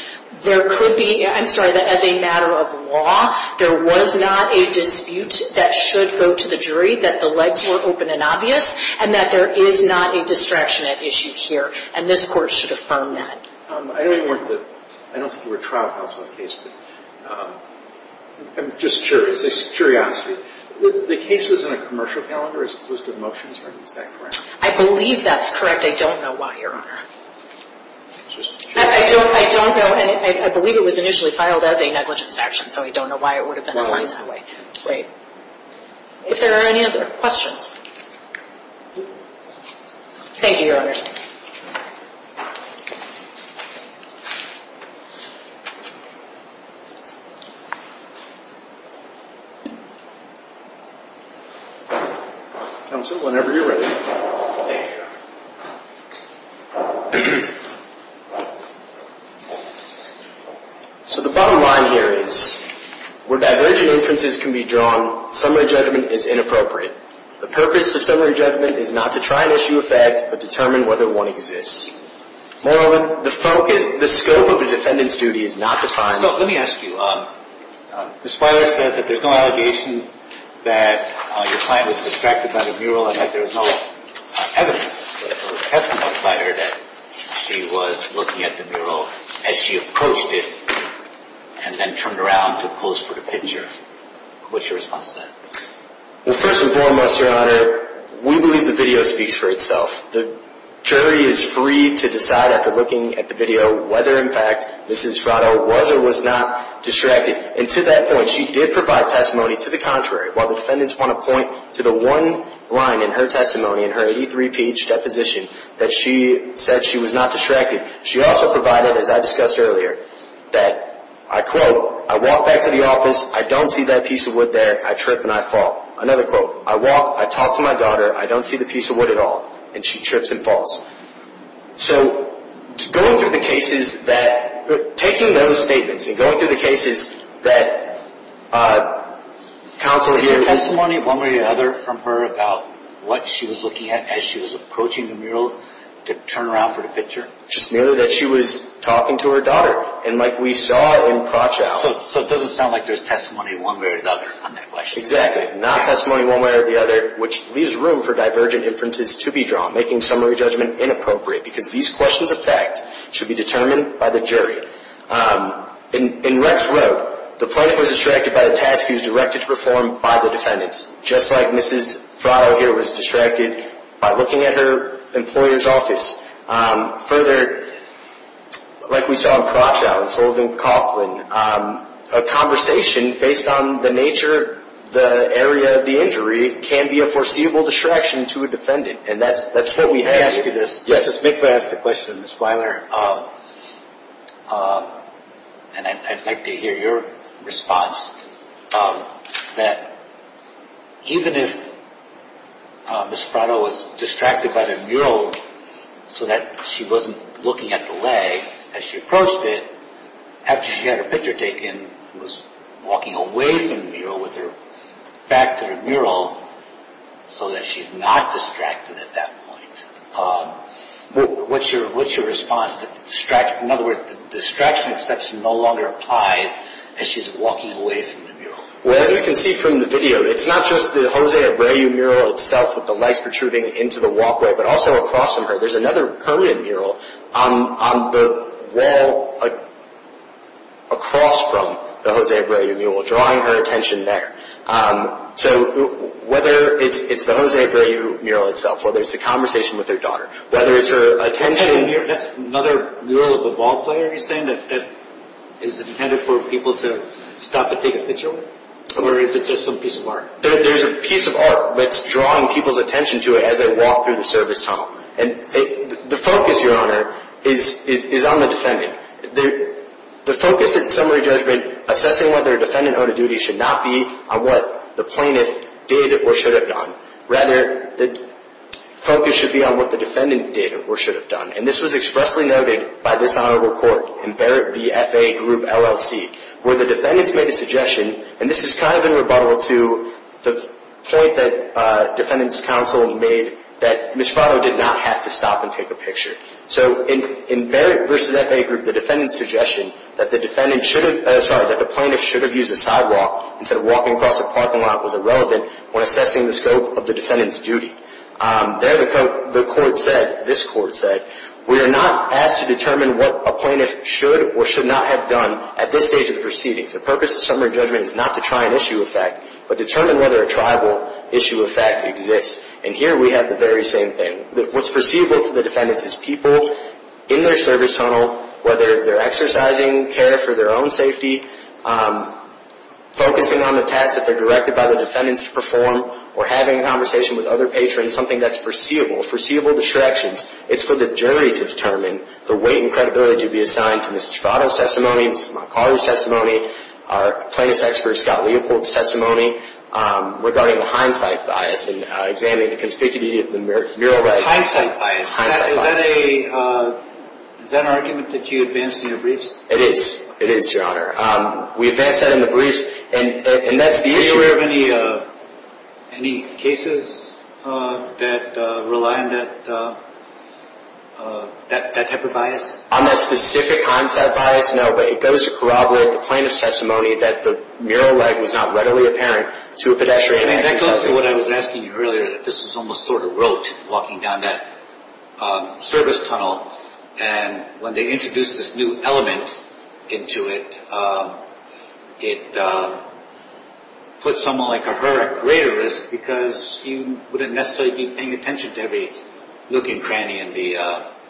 there could be – I'm sorry, that as a matter of law, there was not a dispute that should go to the jury, that the legs were open and obvious, and that there is not a distraction at issue here. And this court should affirm that. I don't think you were a trial counsel in the case, but I'm just curious, a curiosity. The case was in a commercial calendar as opposed to motions, right? Is that correct? I believe that's correct. I don't know why, Your Honor. I don't know, and I believe it was initially filed as a negligence action, so I don't know why it would have been assigned that way. Right. If there are any other questions. Thank you, Your Honors. Counsel, whenever you're ready. Thank you, Your Honor. So the bottom line here is, where divergent inferences can be drawn, summary judgment is inappropriate. The purpose of summary judgment is not to try and issue a fact, but determine whether one exists. Moreover, the focus, the scope of the defendant's duty is not defined. So let me ask you, Ms. Weiler says that there's no allegation that your client was distracted by the mural and that there is no evidence or testimony by her that she was looking at the mural as she approached it and then turned around to pose for the picture. What's your response to that? Well, first and foremost, Your Honor, we believe the video speaks for itself. The jury is free to decide after looking at the video whether, in fact, Mrs. Fratto was or was not distracted. And to that point, she did provide testimony to the contrary, while the defendants want to point to the one line in her testimony, in her 83-page deposition, that she said she was not distracted. She also provided, as I discussed earlier, that, I quote, I trip and I fall. Another quote. I walk, I talk to my daughter, I don't see the piece of wood at all, and she trips and falls. So going through the cases that – taking those statements and going through the cases that counsel here – Was there testimony one way or the other from her about what she was looking at as she was approaching the mural to turn around for the picture? Just merely that she was talking to her daughter. And like we saw in Fratto. So it doesn't sound like there's testimony one way or the other on that question. Exactly. Not testimony one way or the other, which leaves room for divergent inferences to be drawn, making summary judgment inappropriate, because these questions of fact should be determined by the jury. In Rex Road, the plaintiff was distracted by the task he was directed to perform by the defendants, just like Mrs. Fratto here was distracted by looking at her employer's office. Further, like we saw in Crotchow and Sullivan-Coughlin, a conversation based on the nature, the area of the injury can be a foreseeable distraction to a defendant, and that's what we had. Let me ask you this. Yes. Mrs. Mikva asked a question, Ms. Weiler. And I'd like to hear your response, that even if Mrs. Fratto was distracted by the mural so that she wasn't looking at the leg as she approached it, after she had her picture taken, was walking away from the mural with her back to the mural so that she's not distracted at that point, what's your response to the distraction? In other words, the distraction exception no longer applies as she's walking away from the mural. Well, as we can see from the video, it's not just the José Abreu mural itself with the legs protruding into the walkway, but also across from her. There's another permanent mural on the wall across from the José Abreu mural, drawing her attention there. So whether it's the José Abreu mural itself, whether it's the conversation with her daughter, whether it's her attention That's another mural of a ball player you're saying that is intended for people to stop and take a picture with? Or is it just some piece of art? There's a piece of art that's drawing people's attention to it as they walk through the service tunnel. And the focus, Your Honor, is on the defendant. The focus in summary judgment assessing whether a defendant owed a duty should not be on what the plaintiff did or should have done. Rather, the focus should be on what the defendant did or should have done. And this was expressly noted by this honorable court in Barrett v. FAA Group LLC, where the defendants made a suggestion, and this is kind of in rebuttal to the point that defendants counsel made, that Ms. Farrow did not have to stop and take a picture. So in Barrett v. FAA Group, the defendant's suggestion that the plaintiff should have used a sidewalk instead of walking across a parking lot was irrelevant when assessing the scope of the defendant's duty. There the court said, this court said, We are not asked to determine what a plaintiff should or should not have done at this stage of the proceedings. The purpose of summary judgment is not to try an issue of fact, but determine whether a tribal issue of fact exists. And here we have the very same thing. What's perceivable to the defendants is people in their service tunnel, whether they're exercising care for their own safety, focusing on the tasks that they're directed by the defendants to perform, or having a conversation with other patrons, something that's perceivable, perceivable distractions. It's for the jury to determine the weight and credibility to be assigned to Ms. Farrow's testimony, Ms. McCauley's testimony, our plaintiff's expert, Scott Leopold's testimony, regarding the hindsight bias and examining the conspicuity of the mural leg. Hindsight bias. Hindsight bias. Is that an argument that you advance in your briefs? It is. It is, Your Honor. We advance that in the briefs, and that's the issue. Are you aware of any cases that rely on that type of bias? On that specific hindsight bias, no, but it goes to corroborate the plaintiff's testimony that the mural leg was not readily apparent to a pedestrian exercising care. That goes to what I was asking you earlier, that this was almost sort of rote, walking down that service tunnel, and when they introduced this new element into it, it put someone like a her at greater risk because you wouldn't necessarily be paying attention to every nook and cranny in the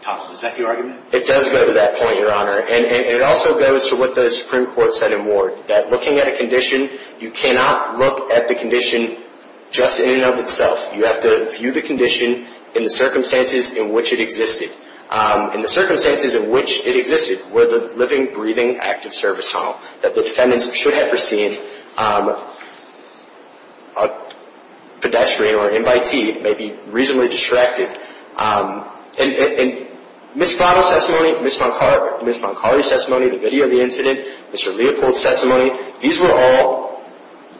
tunnel. Is that your argument? It does go to that point, Your Honor. And it also goes to what the Supreme Court said in Ward, that looking at a condition, you cannot look at the condition just in and of itself. You have to view the condition in the circumstances in which it existed. And the circumstances in which it existed were the living, breathing, active service tunnel that the defendants should have foreseen a pedestrian or an invitee may be reasonably distracted. And Ms. Strato's testimony, Ms. Moncari's testimony, the video of the incident, Mr. Leopold's testimony, these were all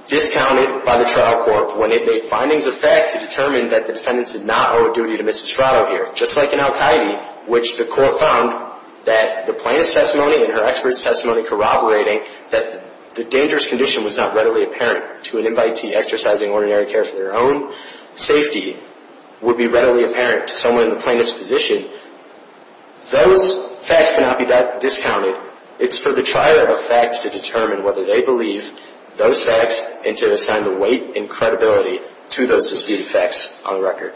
discounted by the trial court when it made findings of fact to determine that the defendants did not owe a duty to Ms. Strato here, just like in Al-Qaeda, which the court found that the plaintiff's testimony and her expert's testimony corroborating that the dangerous condition was not readily apparent to an invitee exercising ordinary care for their own safety would be readily apparent to someone in the plaintiff's position. Those facts cannot be discounted. It's for the trier of facts to determine whether they believe those facts and to assign the weight and credibility to those disputed facts on the record.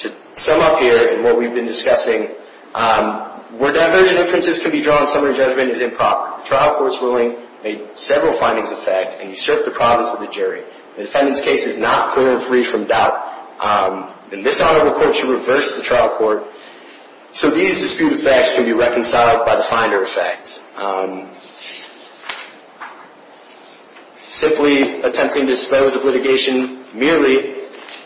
To sum up here in what we've been discussing, where divergent inferences can be drawn, summary judgment is improper. The trial court's ruling made several findings of fact and usurped the province of the jury. The defendant's case is not clear and free from doubt, and this honorable court should reverse the trial court so these disputed facts can be reconciled by the finder of facts. Simply attempting to dispose of litigation merely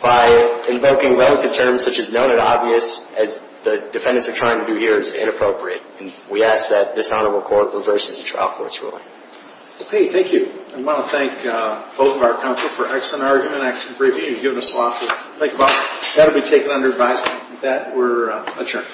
by invoking relative terms such as known and obvious, as the defendants are trying to do here, is inappropriate, and we ask that this honorable court reverses the trial court's ruling. Okay, thank you. I want to thank both of our counsel for excellent argument, excellent review, and giving us a lot to think about. That will be taken under advisement. With that, we're adjourned.